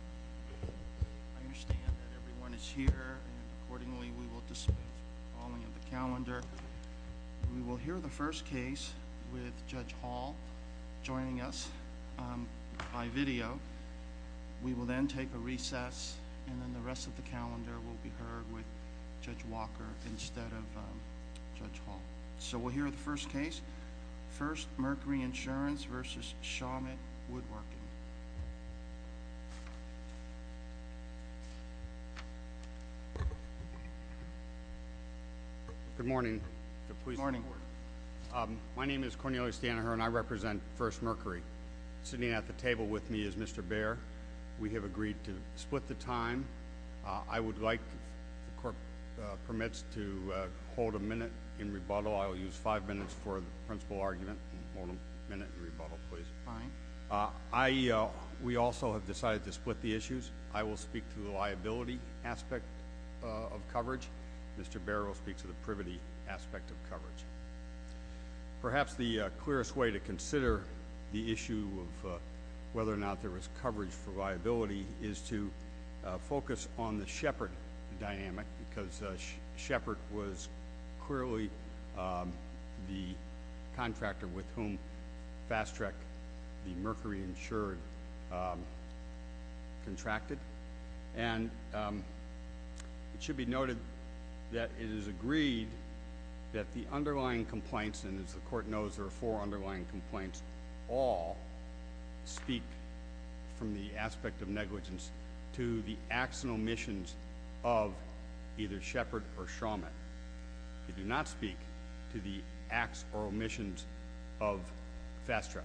I understand that everyone is here and accordingly we will dispense the following of the calendar. We will hear the first case with Judge Hall joining us by video. We will then take a recess and then the rest of the calendar will be heard with Judge Walker instead of Judge Hall. So we'll hear the first case. First, Mercury Insurance v. Shawmut Woodworking. Good morning. My name is Cornelius Dannher and I represent First Mercury. Sitting at the table with me is Mr. Baer. We have agreed to split the time. I would like, if the court permits, to hold a minute in rebuttal. I will use five minutes for the principal argument and hold a minute in rebuttal, please. We also have decided to split the issues. I will speak to the liability aspect of coverage. Mr. Baer will speak to the privity aspect of coverage. Perhaps the clearest way to consider the issue of whether or not there was coverage for liability is to focus on the Shepard dynamic because Shepard was clearly the contractor with whom Fast Track, the Mercury insured, contracted. And it should be noted that it is agreed that the underlying complaints, and as the court knows there are four underlying complaints, all speak from the aspect of negligence to the acts and omissions of either Shepard or Shawmut. They do not speak to the acts or omissions of Fast Track.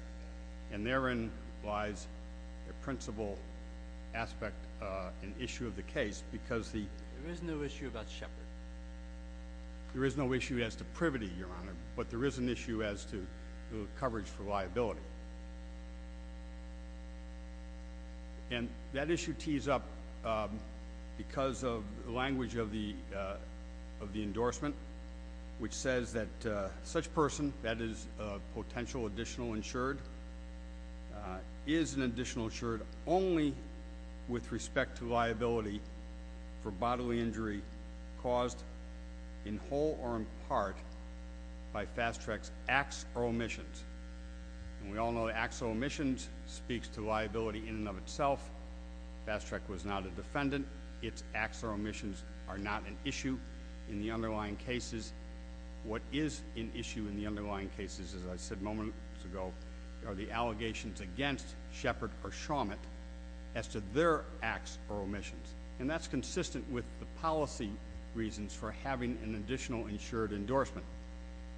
And therein lies the principal aspect and issue of the case because the— There is no issue about Shepard. There is no issue as to privity, Your Honor, but there is an issue as to coverage for liability. And that issue tees up because of the language of the endorsement, which says that such person, that is a potential additional insured, is an additional insured only with respect to liability for bodily injury caused in whole or in part by Fast Track's acts or omissions. And we all know that acts or omissions speaks to liability in and of itself. Fast Track was not a defendant. Its acts or omissions are not an issue in the underlying cases. What is an issue in the underlying cases, as I said moments ago, are the allegations against Shepard or Shawmut as to their acts or omissions. And that's consistent with the policy reasons for having an additional insured endorsement.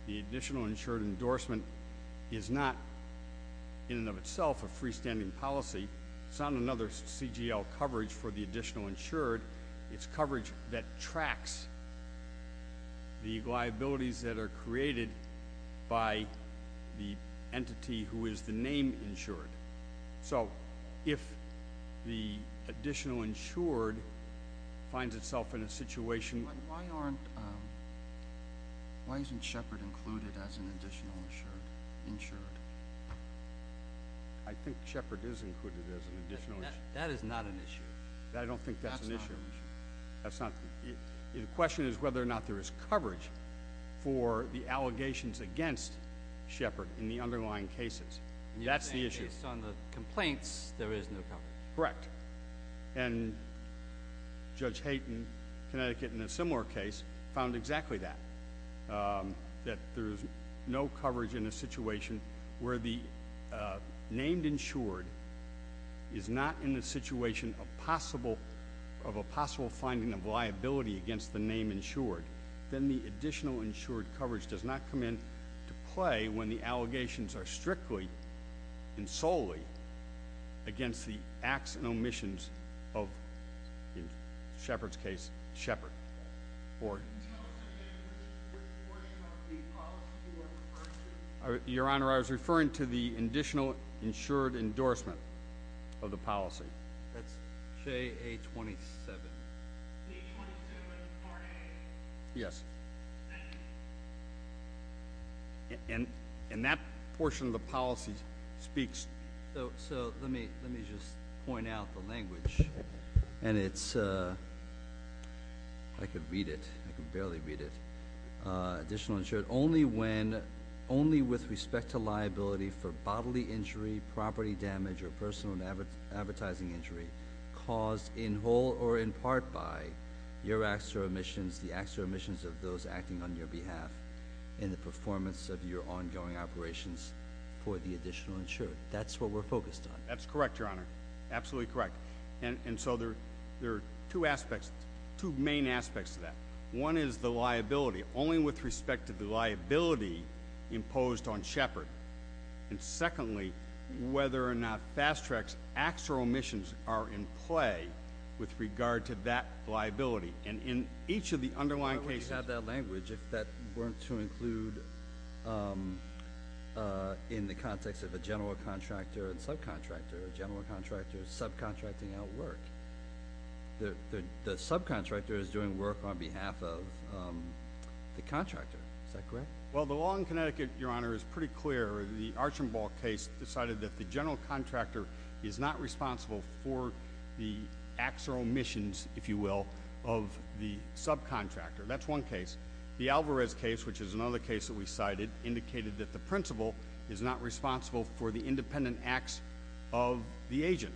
The additional insured endorsement is not in and of itself a freestanding policy. It's not another CGL coverage for the additional insured. It's coverage that tracks the liabilities that are created by the entity who is the name insured. So if the additional insured finds itself in a situation- But why aren't, why isn't Shepard included as an additional insured? I think Shepard is included as an additional insured. That is not an issue. I don't think that's an issue. That's not an issue. That's not- The question is whether or not there is coverage for the allegations against Shepard in the underlying cases. That's the issue. Based on the complaints, there is no coverage. Correct. And Judge Hayden, Connecticut, in a similar case, found exactly that. That there's no coverage in a situation where the named insured is not in the situation of possible, of a possible finding of liability against the name insured. Then the additional insured coverage does not come into play when the allegations are strictly and solely against the acts and omissions of, in Shepard's case, Shepard. Can you tell us again which portion of the policy you are referring to? Your Honor, I was referring to the additional insured endorsement of the policy. That's J.A. 27. J.A. 27, Part A? Yes. And that portion of the policy speaks- So let me just point out the language. And it's, I can read it, I can barely read it. Additional insured only when, only with respect to liability for bodily injury, property damage, or personal advertising injury caused in whole or in part by your acts or omissions, the acts or omissions of those acting on your behalf in the performance of your ongoing operations for the additional insured. That's what we're focused on. That's correct, Your Honor. Absolutely correct. And so there are two aspects, two main aspects to that. One is the liability, only with respect to the liability imposed on Shepard. And secondly, whether or not Fast Track's acts or omissions are in play with regard to that liability. And in each of the underlying cases- Why would you have that language if that weren't to include in the context of a general contractor and subcontractor, a general contractor subcontracting out work? The subcontractor is doing work on behalf of the contractor. Is that correct? Well, the law in Connecticut, Your Honor, is pretty clear. The Archambault case decided that the general contractor is not responsible for the acts or omissions, if you will, of the subcontractor. That's one case. The Alvarez case, which is another case that we cited, indicated that the principal is not responsible for the independent acts of the agent.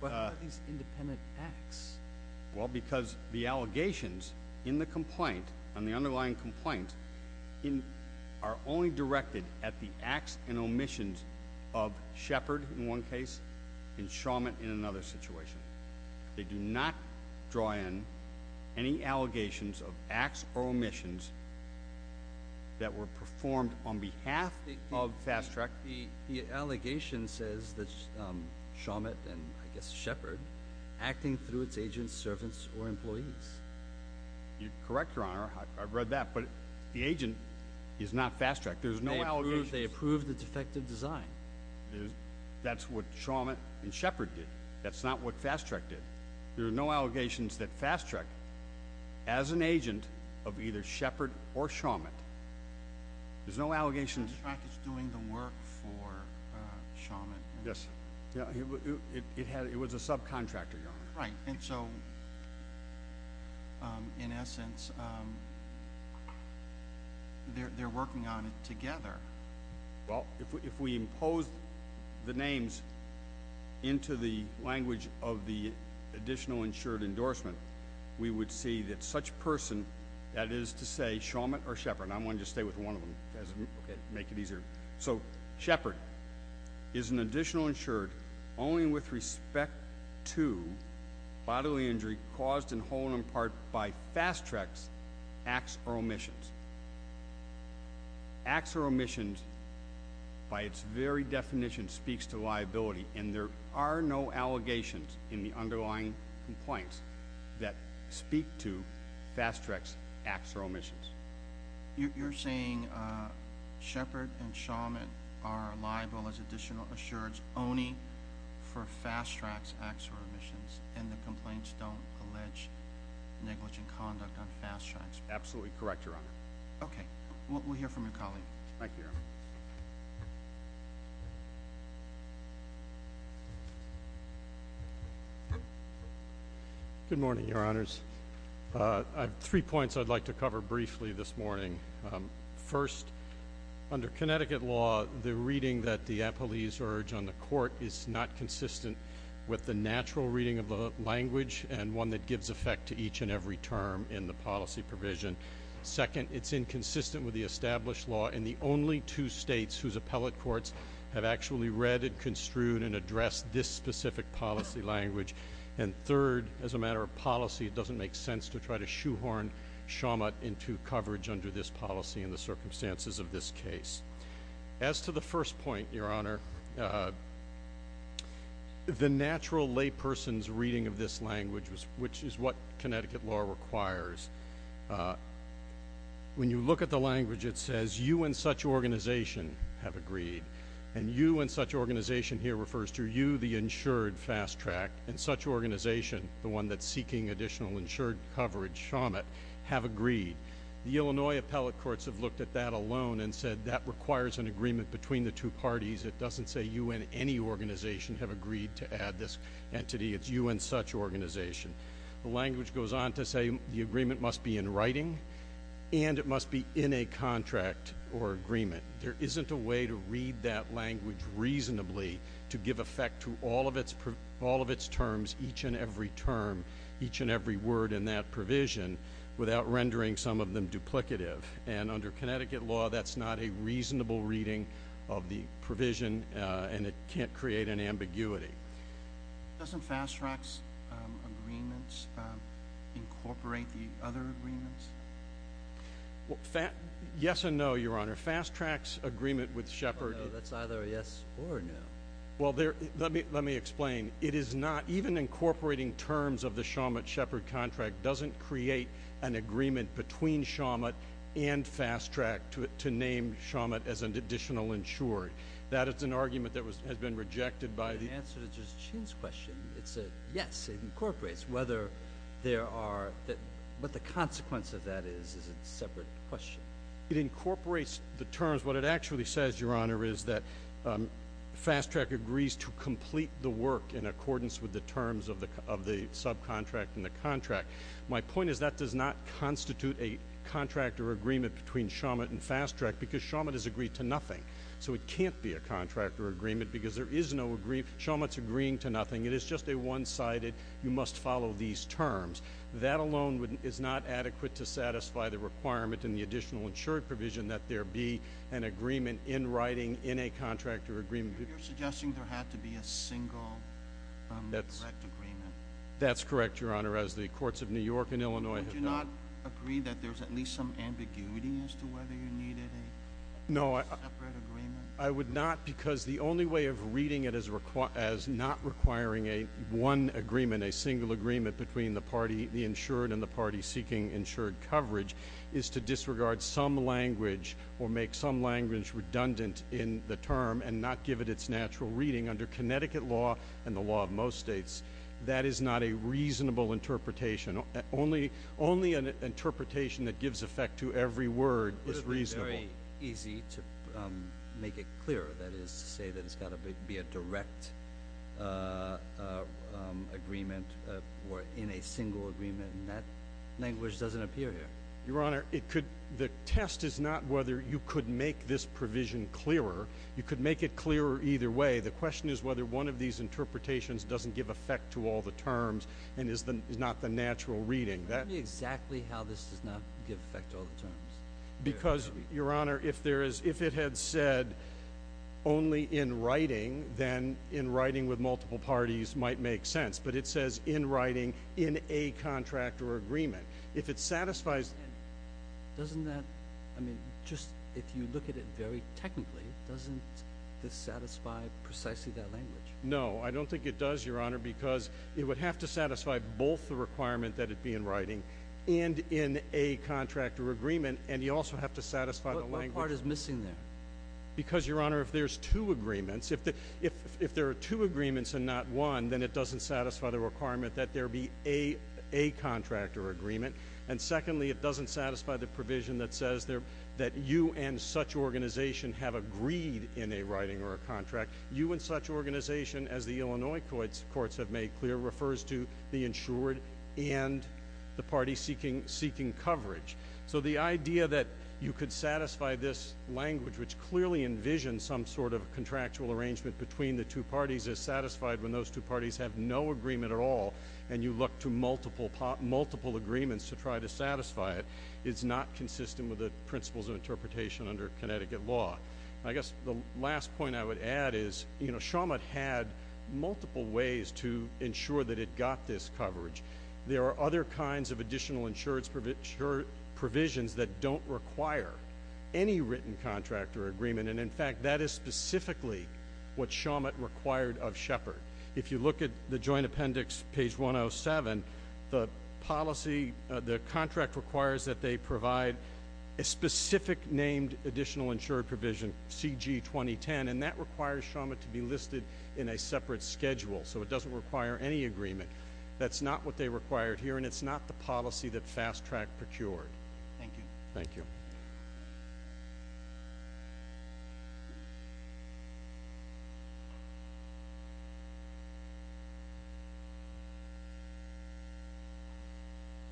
But what are these independent acts? Well, because the allegations in the complaint, on the underlying complaint, are only directed at the acts and omissions of Shepard, in one case, and Shawmut in another situation. They do not draw in any allegations of acts or omissions that were performed on behalf of Fast Track. The allegation says that Shawmut and, I guess, Shepard, acting through its agents, servants, or employees. You're correct, Your Honor. I've read that. But the agent is not Fast Track. There's no allegations. They approved the defective design. That's what Shawmut and Shepard did. That's not what Fast Track did. There are no allegations that Fast Track, as an agent of either Shepard or Shawmut, there's no allegations. Fast Track is doing the work for Shawmut. Yes. It was a subcontractor, Your Honor. Right. And so, in essence, they're working on it together. Well, if we impose the names into the language of the additional insured endorsement, we would see that such person, that is to say, Shawmut or Shepard. I'm going to just stay with one of them. Make it easier. So, Shepard is an additional insured only with respect to bodily injury caused in whole and in part by Fast Track's acts or omissions. Acts or omissions, by its very definition, speaks to liability, and there are no allegations in the underlying complaints that speak to Fast Track's acts or omissions. You're saying Shepard and Shawmut are liable as additional insureds only for Fast Track's acts or omissions, and the complaints don't allege negligent conduct on Fast Track's part? Absolutely correct, Your Honor. Okay. We'll hear from your colleague. Thank you, Your Honor. Good morning, Your Honors. I have three points I'd like to cover briefly this morning. First, under Connecticut law, the reading that the appellees urge on the court is not consistent with the natural reading of the language and one that gives effect to each and every term in the policy provision. Second, it's inconsistent with the established law in the only two states whose appellate courts have actually read and construed and addressed this specific policy language. And third, as a matter of policy, it doesn't make sense to try to shoehorn Shawmut into coverage under this policy in the circumstances of this case. As to the first point, Your Honor, the natural layperson's reading of this language, which is what Connecticut law requires, when you look at the language, it says, you and such organization have agreed, and you and such organization here refers to you, the insured Fast Track, and such organization, the one that's seeking additional insured coverage, Shawmut, have agreed. The Illinois appellate courts have looked at that alone and said that requires an agreement between the two parties. It doesn't say you and any organization have agreed to add this entity. It's you and such organization. The language goes on to say the agreement must be in writing and it must be in a contract or agreement. There isn't a way to read that language reasonably to give effect to all of its terms, each and every term, each and every word in that provision, without rendering some of them duplicative. And under Connecticut law, that's not a reasonable reading of the provision, and it can't create an ambiguity. Doesn't Fast Track's agreements incorporate the other agreements? Yes and no, Your Honor. Fast Track's agreement with Shepard. That's either a yes or a no. Well, let me explain. It is not, even incorporating terms of the Shawmut-Shepard contract doesn't create an agreement between Shawmut and Fast Track to name Shawmut as an additional insured. That is an argument that has been rejected by the- In answer to Justice Chin's question, it's a yes. It incorporates whether there are, what the consequence of that is, is a separate question. It incorporates the terms. What it actually says, Your Honor, is that Fast Track agrees to complete the work in accordance with the terms of the subcontract and the contract. My point is that does not constitute a contract or agreement between Shawmut and Fast Track because Shawmut is agreed to nothing. So it can't be a contract or agreement because there is no agreement. Shawmut's agreeing to nothing. It is just a one-sided, you must follow these terms. That alone is not adequate to satisfy the requirement in the additional insured provision that there be an agreement in writing in a contract or agreement. You're suggesting there had to be a single direct agreement. That's correct, Your Honor. As the courts of New York and Illinois- Would you not agree that there's at least some ambiguity as to whether you needed a separate agreement? I would not because the only way of reading it as not requiring a one agreement, a single agreement between the party, the insured and the party seeking insured coverage, is to disregard some language or make some language redundant in the term and not give it its natural reading under Connecticut law and the law of most states. That is not a reasonable interpretation. Only an interpretation that gives effect to every word is reasonable. It's very easy to make it clearer. That is to say that it's got to be a direct agreement or in a single agreement, and that language doesn't appear here. Your Honor, the test is not whether you could make this provision clearer. You could make it clearer either way. The question is whether one of these interpretations doesn't give effect to all the terms and is not the natural reading. Tell me exactly how this does not give effect to all the terms. Because, Your Honor, if it had said only in writing, then in writing with multiple parties might make sense, but it says in writing, in a contract or agreement. If it satisfies— Doesn't that—I mean, just if you look at it very technically, doesn't this satisfy precisely that language? No, I don't think it does, Your Honor, because it would have to satisfy both the requirement that it be in writing and in a contract or agreement, and you also have to satisfy the language— What part is missing there? Because, Your Honor, if there's two agreements, if there are two agreements and not one, then it doesn't satisfy the requirement that there be a contract or agreement. And secondly, it doesn't satisfy the provision that says that you and such organization have agreed in a writing or a contract. You and such organization, as the Illinois courts have made clear, refers to the insured and the party seeking coverage. So the idea that you could satisfy this language, which clearly envisions some sort of contractual arrangement between the two parties, is satisfied when those two parties have no agreement at all, and you look to multiple agreements to try to satisfy it, is not consistent with the principles of interpretation under Connecticut law. I guess the last point I would add is, you know, Shawmut had multiple ways to ensure that it got this coverage. There are other kinds of additional insurance provisions that don't require any written contract or agreement, and, in fact, that is specifically what Shawmut required of Shepard. If you look at the Joint Appendix, page 107, the policy— a specific named additional insured provision, CG2010, and that requires Shawmut to be listed in a separate schedule. So it doesn't require any agreement. That's not what they required here, and it's not the policy that Fast Track procured. Thank you. Thank you.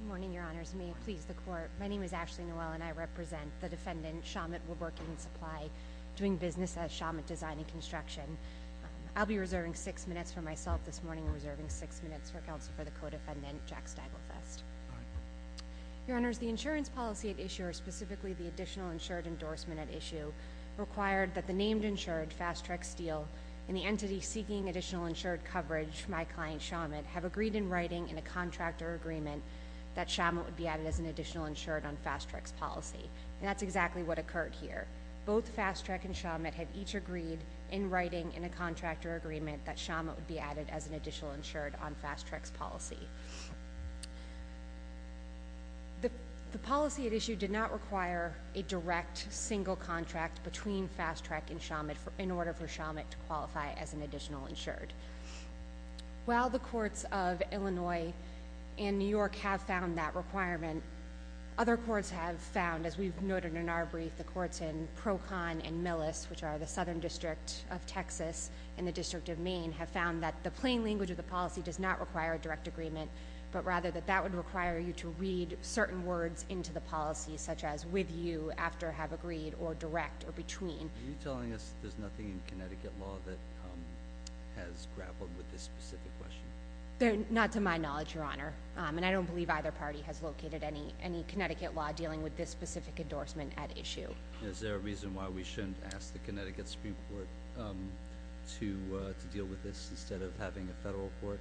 Good morning, Your Honors. May it please the Court. My name is Ashley Noel, and I represent the defendant, Shawmut Woodworking and Supply, doing business at Shawmut Design and Construction. I'll be reserving six minutes for myself this morning. We're reserving six minutes for counsel for the co-defendant, Jack Stagelfest. Your Honors, the insurance policy at issue, or specifically the additional insured endorsement at issue, required that the named insured, Fast Track Steel, and the entity seeking additional insured coverage, my client, Shawmut, have agreed in writing in a contractor agreement that Shawmut would be added as an additional insured on Fast Track's policy. And that's exactly what occurred here. Both Fast Track and Shawmut have each agreed in writing in a contractor agreement that Shawmut would be added as an additional insured on Fast Track's policy. The policy at issue did not require a direct single contract between Fast Track and Shawmut in order for Shawmut to qualify as an additional insured. While the courts of Illinois and New York have found that requirement, other courts have found, as we've noted in our brief, the courts in Procon and Millis, which are the southern district of Texas and the district of Maine, have found that the plain language of the policy does not require a direct agreement, but rather that that would require you to read certain words into the policy, such as with you, after have agreed, or direct, or between. Are you telling us that there's nothing in Connecticut law that has grappled with this specific question? Not to my knowledge, Your Honor. And I don't believe either party has located any Connecticut law dealing with this specific endorsement at issue. Is there a reason why we shouldn't ask the Connecticut Supreme Court to deal with this instead of having a federal court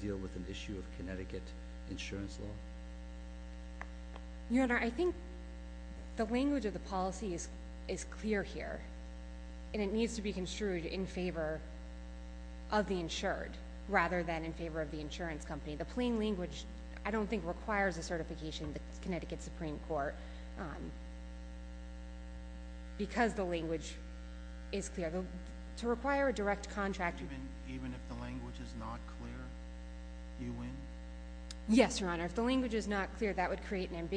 deal with an issue of Connecticut insurance law? Your Honor, I think the language of the policy is clear here, and it needs to be construed in favor of the insured rather than in favor of the insurance company. The plain language, I don't think, requires a certification in the Connecticut Supreme Court because the language is clear. To require a direct contract… Even if the language is not clear, you win? Yes, Your Honor. If the language is not clear, that would create an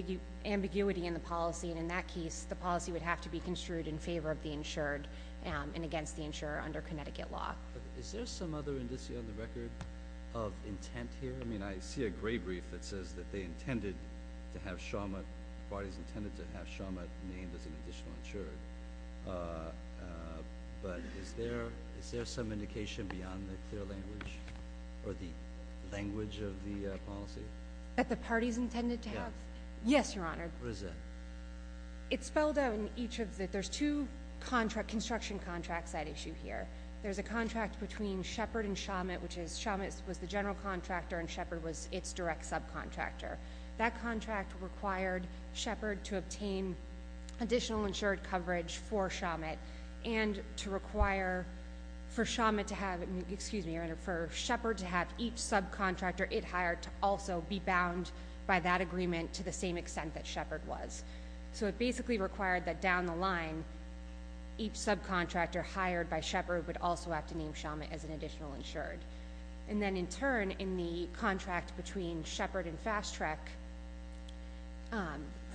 ambiguity in the policy, and in that case, the policy would have to be construed in favor of the insured and against the insurer under Connecticut law. Is there some other indicia on the record of intent here? I mean, I see a gray brief that says that they intended to have Sharmut, parties intended to have Sharmut named as an additional insurer. But is there some indication beyond the clear language or the language of the policy? That the parties intended to have? Yes, Your Honor. What is that? It's spelled out in each of the… There's two construction contracts at issue here. There's a contract between Shepard and Sharmut, which is Sharmut was the general contractor and Shepard was its direct subcontractor. That contract required Shepard to obtain additional insured coverage for Sharmut and to require for Sharmut to have each subcontractor it hired to also be bound by that agreement to the same extent that Shepard was. So it basically required that down the line, each subcontractor hired by Shepard would also have to name Sharmut as an additional insured. And then in turn, in the contract between Shepard and FastTrack,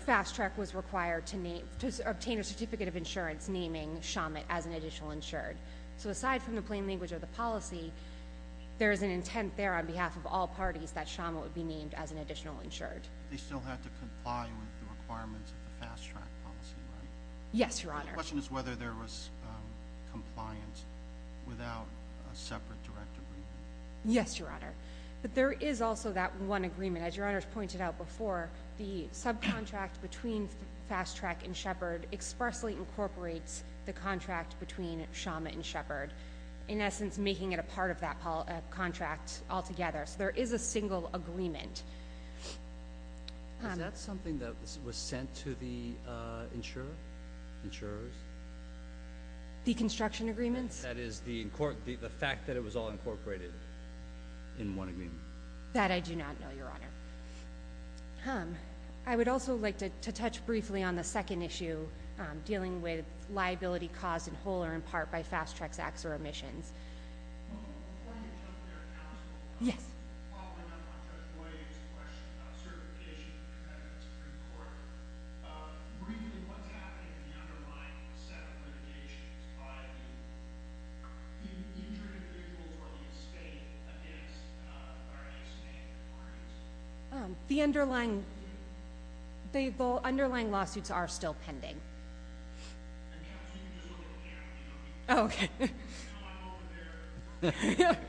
FastTrack was required to obtain a certificate of insurance naming Sharmut as an additional insured. So aside from the plain language of the policy, there is an intent there on behalf of all parties that Sharmut would be named as an additional insured. They still had to comply with the requirements of the FastTrack policy, right? Yes, Your Honor. The question is whether there was compliance without a separate direct agreement. Yes, Your Honor. But there is also that one agreement. As Your Honor has pointed out before, the subcontract between FastTrack and Shepard expressly incorporates the contract between Sharmut and Shepard, in essence making it a part of that contract altogether. So there is a single agreement. Is that something that was sent to the insurer, insurers? The construction agreements? That is the fact that it was all incorporated in one agreement. That I do not know, Your Honor. I would also like to touch briefly on the second issue, dealing with liability caused in whole or in part by FastTrack's acts or omissions. Before you jump to your counsel, while we're not going to avoid you to question the certification of the defendants in court, briefly, what's happening in the underlying set of litigations by the insured individuals or the estate against the various state authorities? The underlying lawsuits are still pending. Counsel, you can just look at the camera. Oh, okay.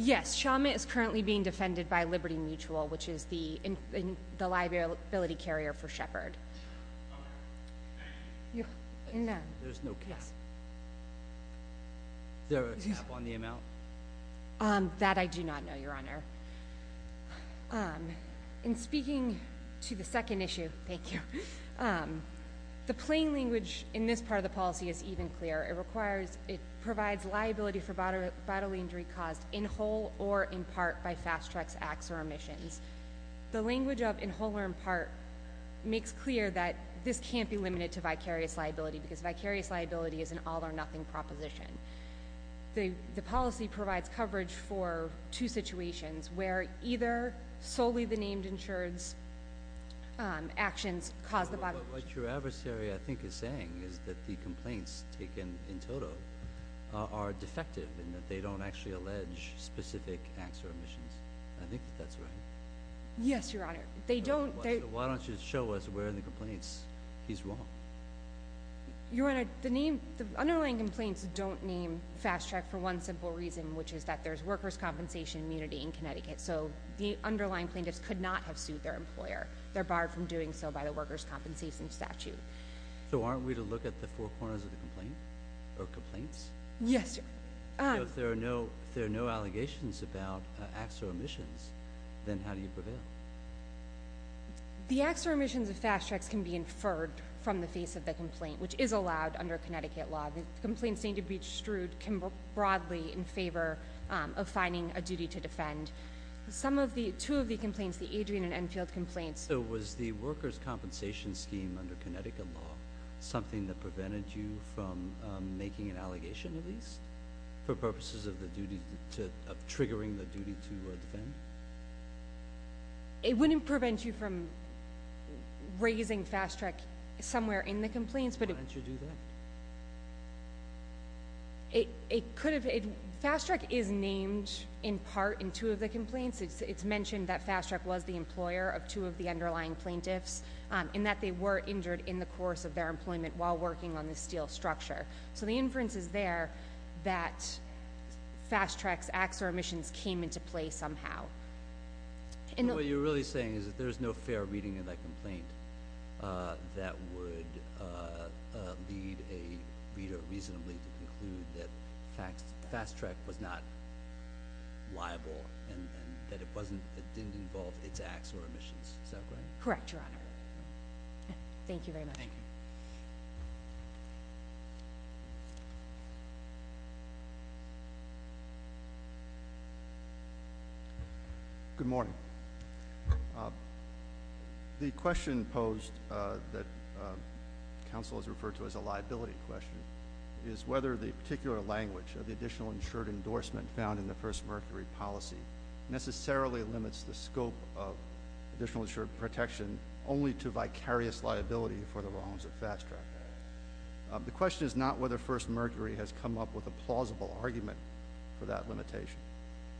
Yes, Sharmut is currently being defended by Liberty Mutual, which is the liability carrier for Shepard. Is there a cap on the amount? That I do not know, Your Honor. In speaking to the second issue, thank you, the plain language in this part of the policy is even clearer. It requires, it provides liability for bodily injury caused in whole or in part by FastTrack's acts or omissions. The language of in whole or in part makes clear that this can't be limited to vicarious liability because vicarious liability is an all or nothing proposition. The policy provides coverage for two situations where either solely the named insured's actions caused the bodily injury. What your adversary, I think, is saying is that the complaints taken in total are defective and that they don't actually allege specific acts or omissions. I think that that's right. Yes, Your Honor. They don't. Why don't you show us where in the complaints he's wrong? Your Honor, the name, the underlying complaints don't name FastTrack for one simple reason, which is that there's workers' compensation immunity in Connecticut, so the underlying plaintiffs could not have sued their employer. They're barred from doing so by the workers' compensation statute. So aren't we to look at the four corners of the complaint or complaints? Yes, Your Honor. If there are no allegations about acts or omissions, then how do you prevail? The acts or omissions of FastTracks can be inferred from the face of the complaint, which is allowed under Connecticut law. The complaints deemed to be extrude can work broadly in favor of finding a duty to defend. Two of the complaints, the Adrian and Enfield complaints— So was the workers' compensation scheme under Connecticut law something that prevented you from making an allegation, at least for purposes of triggering the duty to defend? It wouldn't prevent you from raising FastTrack somewhere in the complaints, but— Why didn't you do that? It could have—FastTrack is named in part in two of the complaints. It's mentioned that FastTrack was the employer of two of the underlying plaintiffs and that they were injured in the course of their employment while working on the steel structure. So the inference is there that FastTrack's acts or omissions came into play somehow. What you're really saying is that there's no fair reading in that complaint that would lead a reader reasonably to conclude that FastTrack was not liable and that it didn't involve its acts or omissions. Is that correct? Correct, Your Honor. Thank you very much. Thank you. Thank you. Good morning. The question posed that counsel has referred to as a liability question is whether the particular language of the additional insured endorsement found in the first Mercury policy necessarily limits the scope of additional insured protection only to vicarious liability for the wrongs of FastTrack. The question is not whether first Mercury has come up with a plausible argument for that limitation.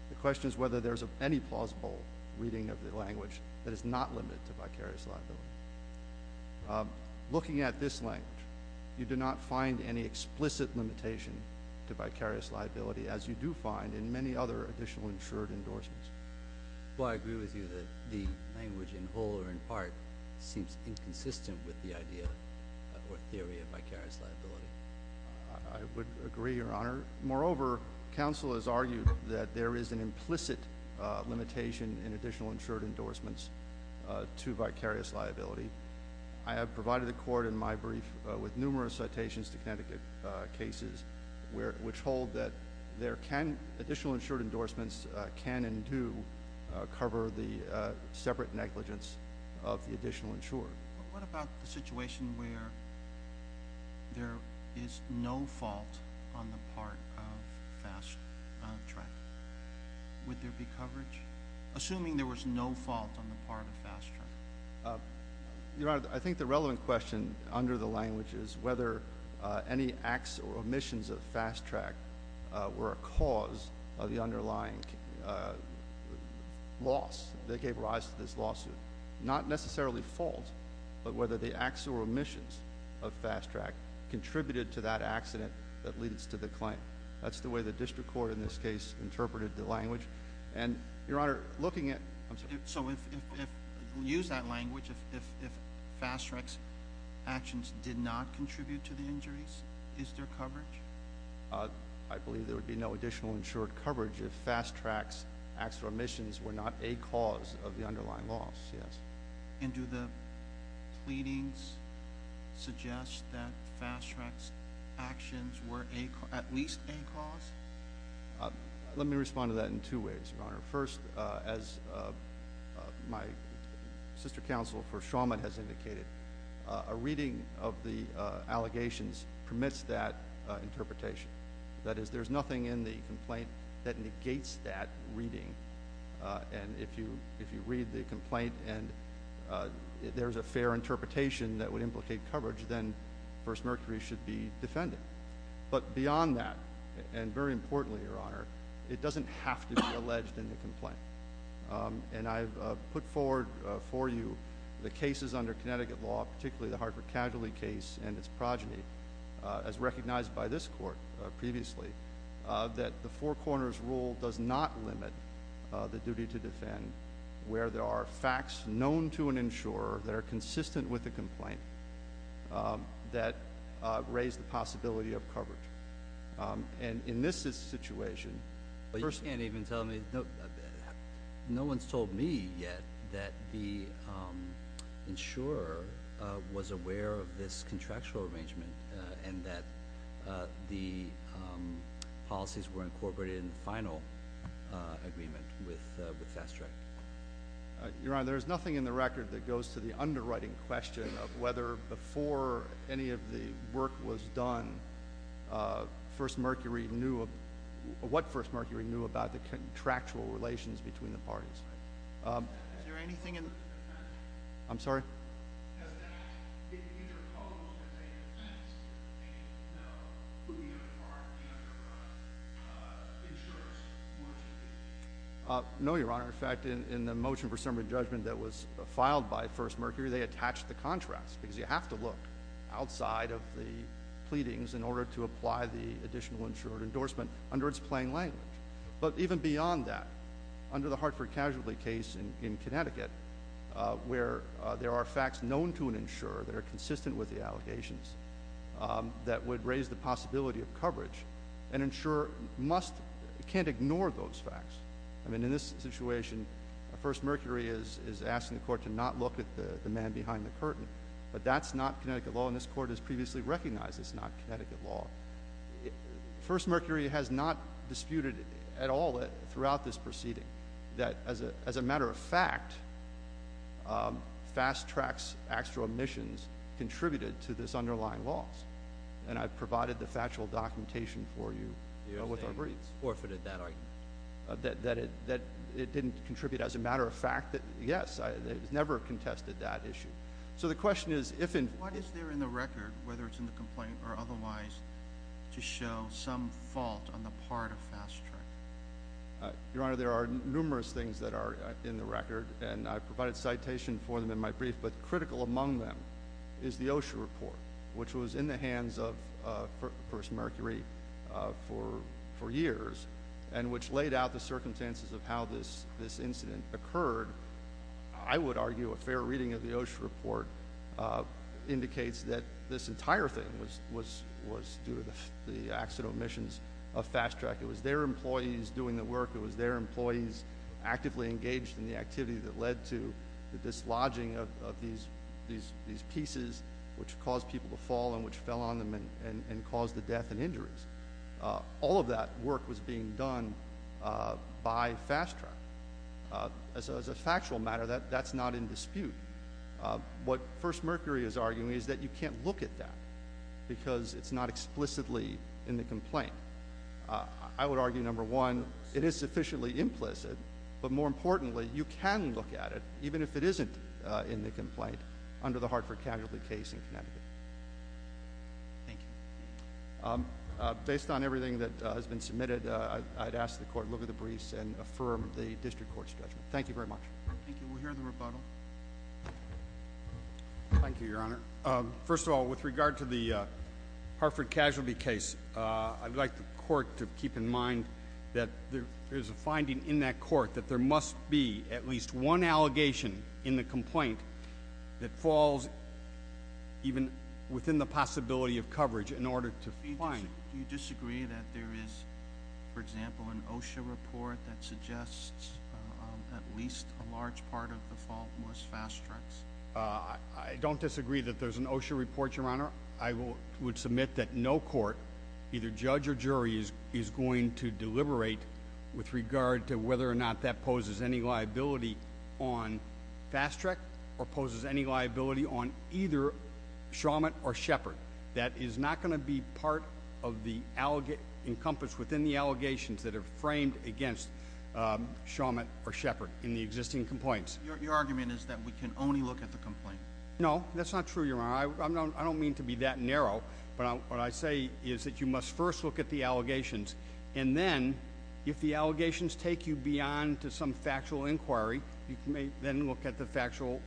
The question is whether there's any plausible reading of the language that is not limited to vicarious liability. Looking at this language, you do not find any explicit limitation to vicarious liability as you do find in many other additional insured endorsements. Well, I agree with you that the language in whole or in part seems inconsistent with the idea or theory of vicarious liability. I would agree, Your Honor. Moreover, counsel has argued that there is an implicit limitation in additional insured endorsements to vicarious liability. I have provided the court in my brief with numerous citations to Connecticut cases which hold that additional insured endorsements can and do cover the separate negligence of the additional insured. What about the situation where there is no fault on the part of FastTrack? Would there be coverage, assuming there was no fault on the part of FastTrack? Your Honor, I think the relevant question under the language is whether any acts or omissions of FastTrack were a cause of the underlying loss that gave rise to this lawsuit. Not necessarily fault, but whether the acts or omissions of FastTrack contributed to that accident that leads to the claim. That's the way the district court in this case interpreted the language. And, Your Honor, looking at... So, if we use that language, if FastTrack's actions did not contribute to the injuries, is there coverage? I believe there would be no additional insured coverage if FastTrack's acts or omissions were not a cause of the underlying loss, yes. And do the pleadings suggest that FastTrack's actions were at least a cause? Let me respond to that in two ways, Your Honor. First, as my sister counsel for Shawmut has indicated, a reading of the allegations permits that interpretation. That is, there's nothing in the complaint that negates that reading. And if you read the complaint and there's a fair interpretation that would implicate coverage, then First Mercury should be defended. But beyond that, and very importantly, Your Honor, it doesn't have to be alleged in the complaint. And I've put forward for you the cases under Connecticut law, particularly the Hartford Casualty case and its progeny, as recognized by this court previously, that the Four Corners Rule does not limit the duty to defend where there are facts known to an insurer that are consistent with the complaint that raise the possibility of coverage. And in this situation, personally- Your Honor, there's nothing in the record that goes to the underwriting question of whether before any of the work was done, First Mercury knew- what First Mercury knew about the contractual relations between the parties. Is there anything in- I'm sorry? Has that been interposed as a defense against, you know, who you are and the other insurers? No, Your Honor. In fact, in the motion for summary judgment that was filed by First Mercury, they attached the contracts because you have to look outside of the pleadings in order to apply the additional insurer endorsement under its plain language. But even beyond that, under the Hartford Casualty case in Connecticut, where there are facts known to an insurer that are consistent with the allegations that would raise the possibility of coverage, an insurer must- can't ignore those facts. I mean, in this situation, First Mercury is asking the Court to not look at the man behind the curtain. But that's not Connecticut law, and this Court has previously recognized it's not Connecticut law. First Mercury has not disputed at all throughout this proceeding that, as a matter of fact, Fast Track's extra omissions contributed to this underlying loss. And I provided the factual documentation for you with our briefs. Yes, they forfeited that argument. That it didn't contribute. As a matter of fact, yes, it never contested that issue. So the question is, if- What is there in the record, whether it's in the complaint or otherwise, to show some fault on the part of Fast Track? Your Honor, there are numerous things that are in the record, and I provided citation for them in my brief. But critical among them is the OSHA report, which was in the hands of First Mercury for years, and which laid out the circumstances of how this incident occurred. I would argue a fair reading of the OSHA report indicates that this entire thing was due to the accidental omissions of Fast Track. It was their employees doing the work. It was their employees actively engaged in the activity that led to the dislodging of these pieces, which caused people to fall and which fell on them and caused the death and injuries. All of that work was being done by Fast Track. As a factual matter, that's not in dispute. What First Mercury is arguing is that you can't look at that because it's not explicitly in the complaint. I would argue, number one, it is sufficiently implicit. But more importantly, you can look at it, even if it isn't in the complaint, under the Hartford Casualty case in Connecticut. Thank you. Based on everything that has been submitted, I'd ask the Court to look at the briefs and affirm the district court's judgment. Thank you very much. Thank you. We'll hear the rebuttal. Thank you, Your Honor. Your Honor, first of all, with regard to the Hartford Casualty case, I'd like the Court to keep in mind that there is a finding in that court that there must be at least one allegation in the complaint that falls even within the possibility of coverage in order to find it. Do you disagree that there is, for example, an OSHA report that suggests at least a large part of the fault was Fast Track's? I don't disagree that there's an OSHA report, Your Honor. I would submit that no court, either judge or jury, is going to deliberate with regard to whether or not that poses any liability on Fast Track or poses any liability on either Shawmut or Shepard. That is not going to be part of the encompass within the allegations that are framed against Shawmut or Shepard in the existing complaints. Your argument is that we can only look at the complaint. No, that's not true, Your Honor. I don't mean to be that narrow, but what I say is that you must first look at the allegations, and then if the allegations take you beyond to some factual inquiry, you can then look at the factual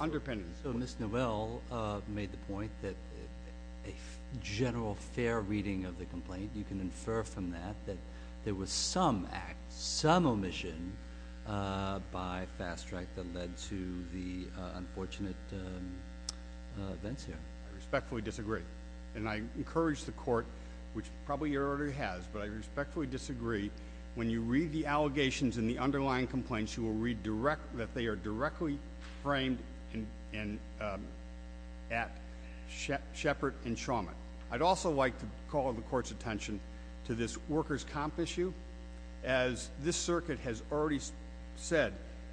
underpinnings. So Ms. Novell made the point that a general fair reading of the complaint, you can infer from that that there was some act, some omission by Fast Track that led to the unfortunate events here. I respectfully disagree, and I encourage the court, which probably your order has, but I respectfully disagree when you read the allegations in the underlying complaints, you will read that they are directly framed at Shepard and Shawmut. I'd also like to call the court's attention to this workers' comp issue. As this circuit has already said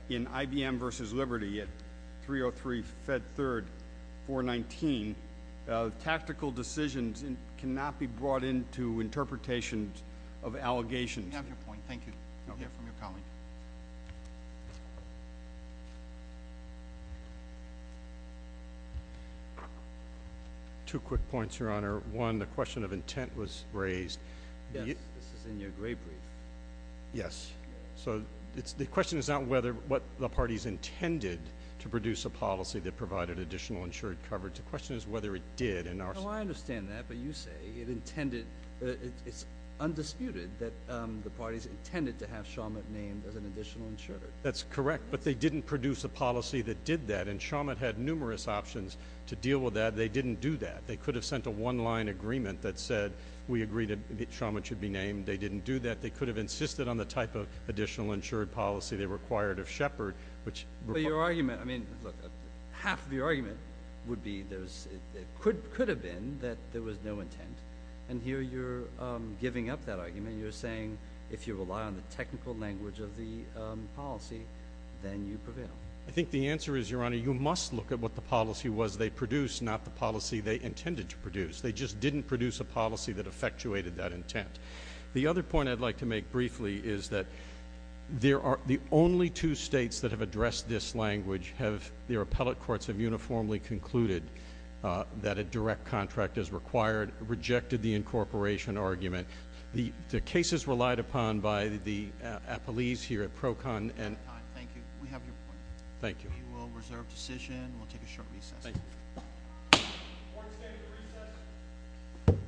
in IBM versus Liberty at 303 Fed 3rd 419, tactical decisions cannot be brought into interpretations of allegations. We have your point. Thank you. We hear from your colleague. Two quick points, Your Honor. One, the question of intent was raised. Yes, this is in your gray brief. Yes. So the question is not what the parties intended to produce a policy that provided additional insured coverage. The question is whether it did. No, I understand that. It's undisputed that the parties intended to have Shawmut named as an additional insurer. That's correct, but they didn't produce a policy that did that, and Shawmut had numerous options to deal with that. They didn't do that. They could have sent a one-line agreement that said we agreed that Shawmut should be named. They didn't do that. They could have insisted on the type of additional insured policy they required of Shepard. But your argument, I mean, look, half of your argument would be it could have been that there was no intent, and here you're giving up that argument. You're saying if you rely on the technical language of the policy, then you prevail. I think the answer is, Your Honor, you must look at what the policy was they produced, not the policy they intended to produce. They just didn't produce a policy that effectuated that intent. The other point I'd like to make briefly is that the only two states that have addressed this language have their appellate courts have uniformly concluded that a direct contract is required, rejected the incorporation argument. The cases relied upon by the appellees here at PROCON and- We're out of time. Thank you. We have your point. Thank you. We will reserve decision. We'll take a short recess. Thank you. Court is standing for recess. Thank you.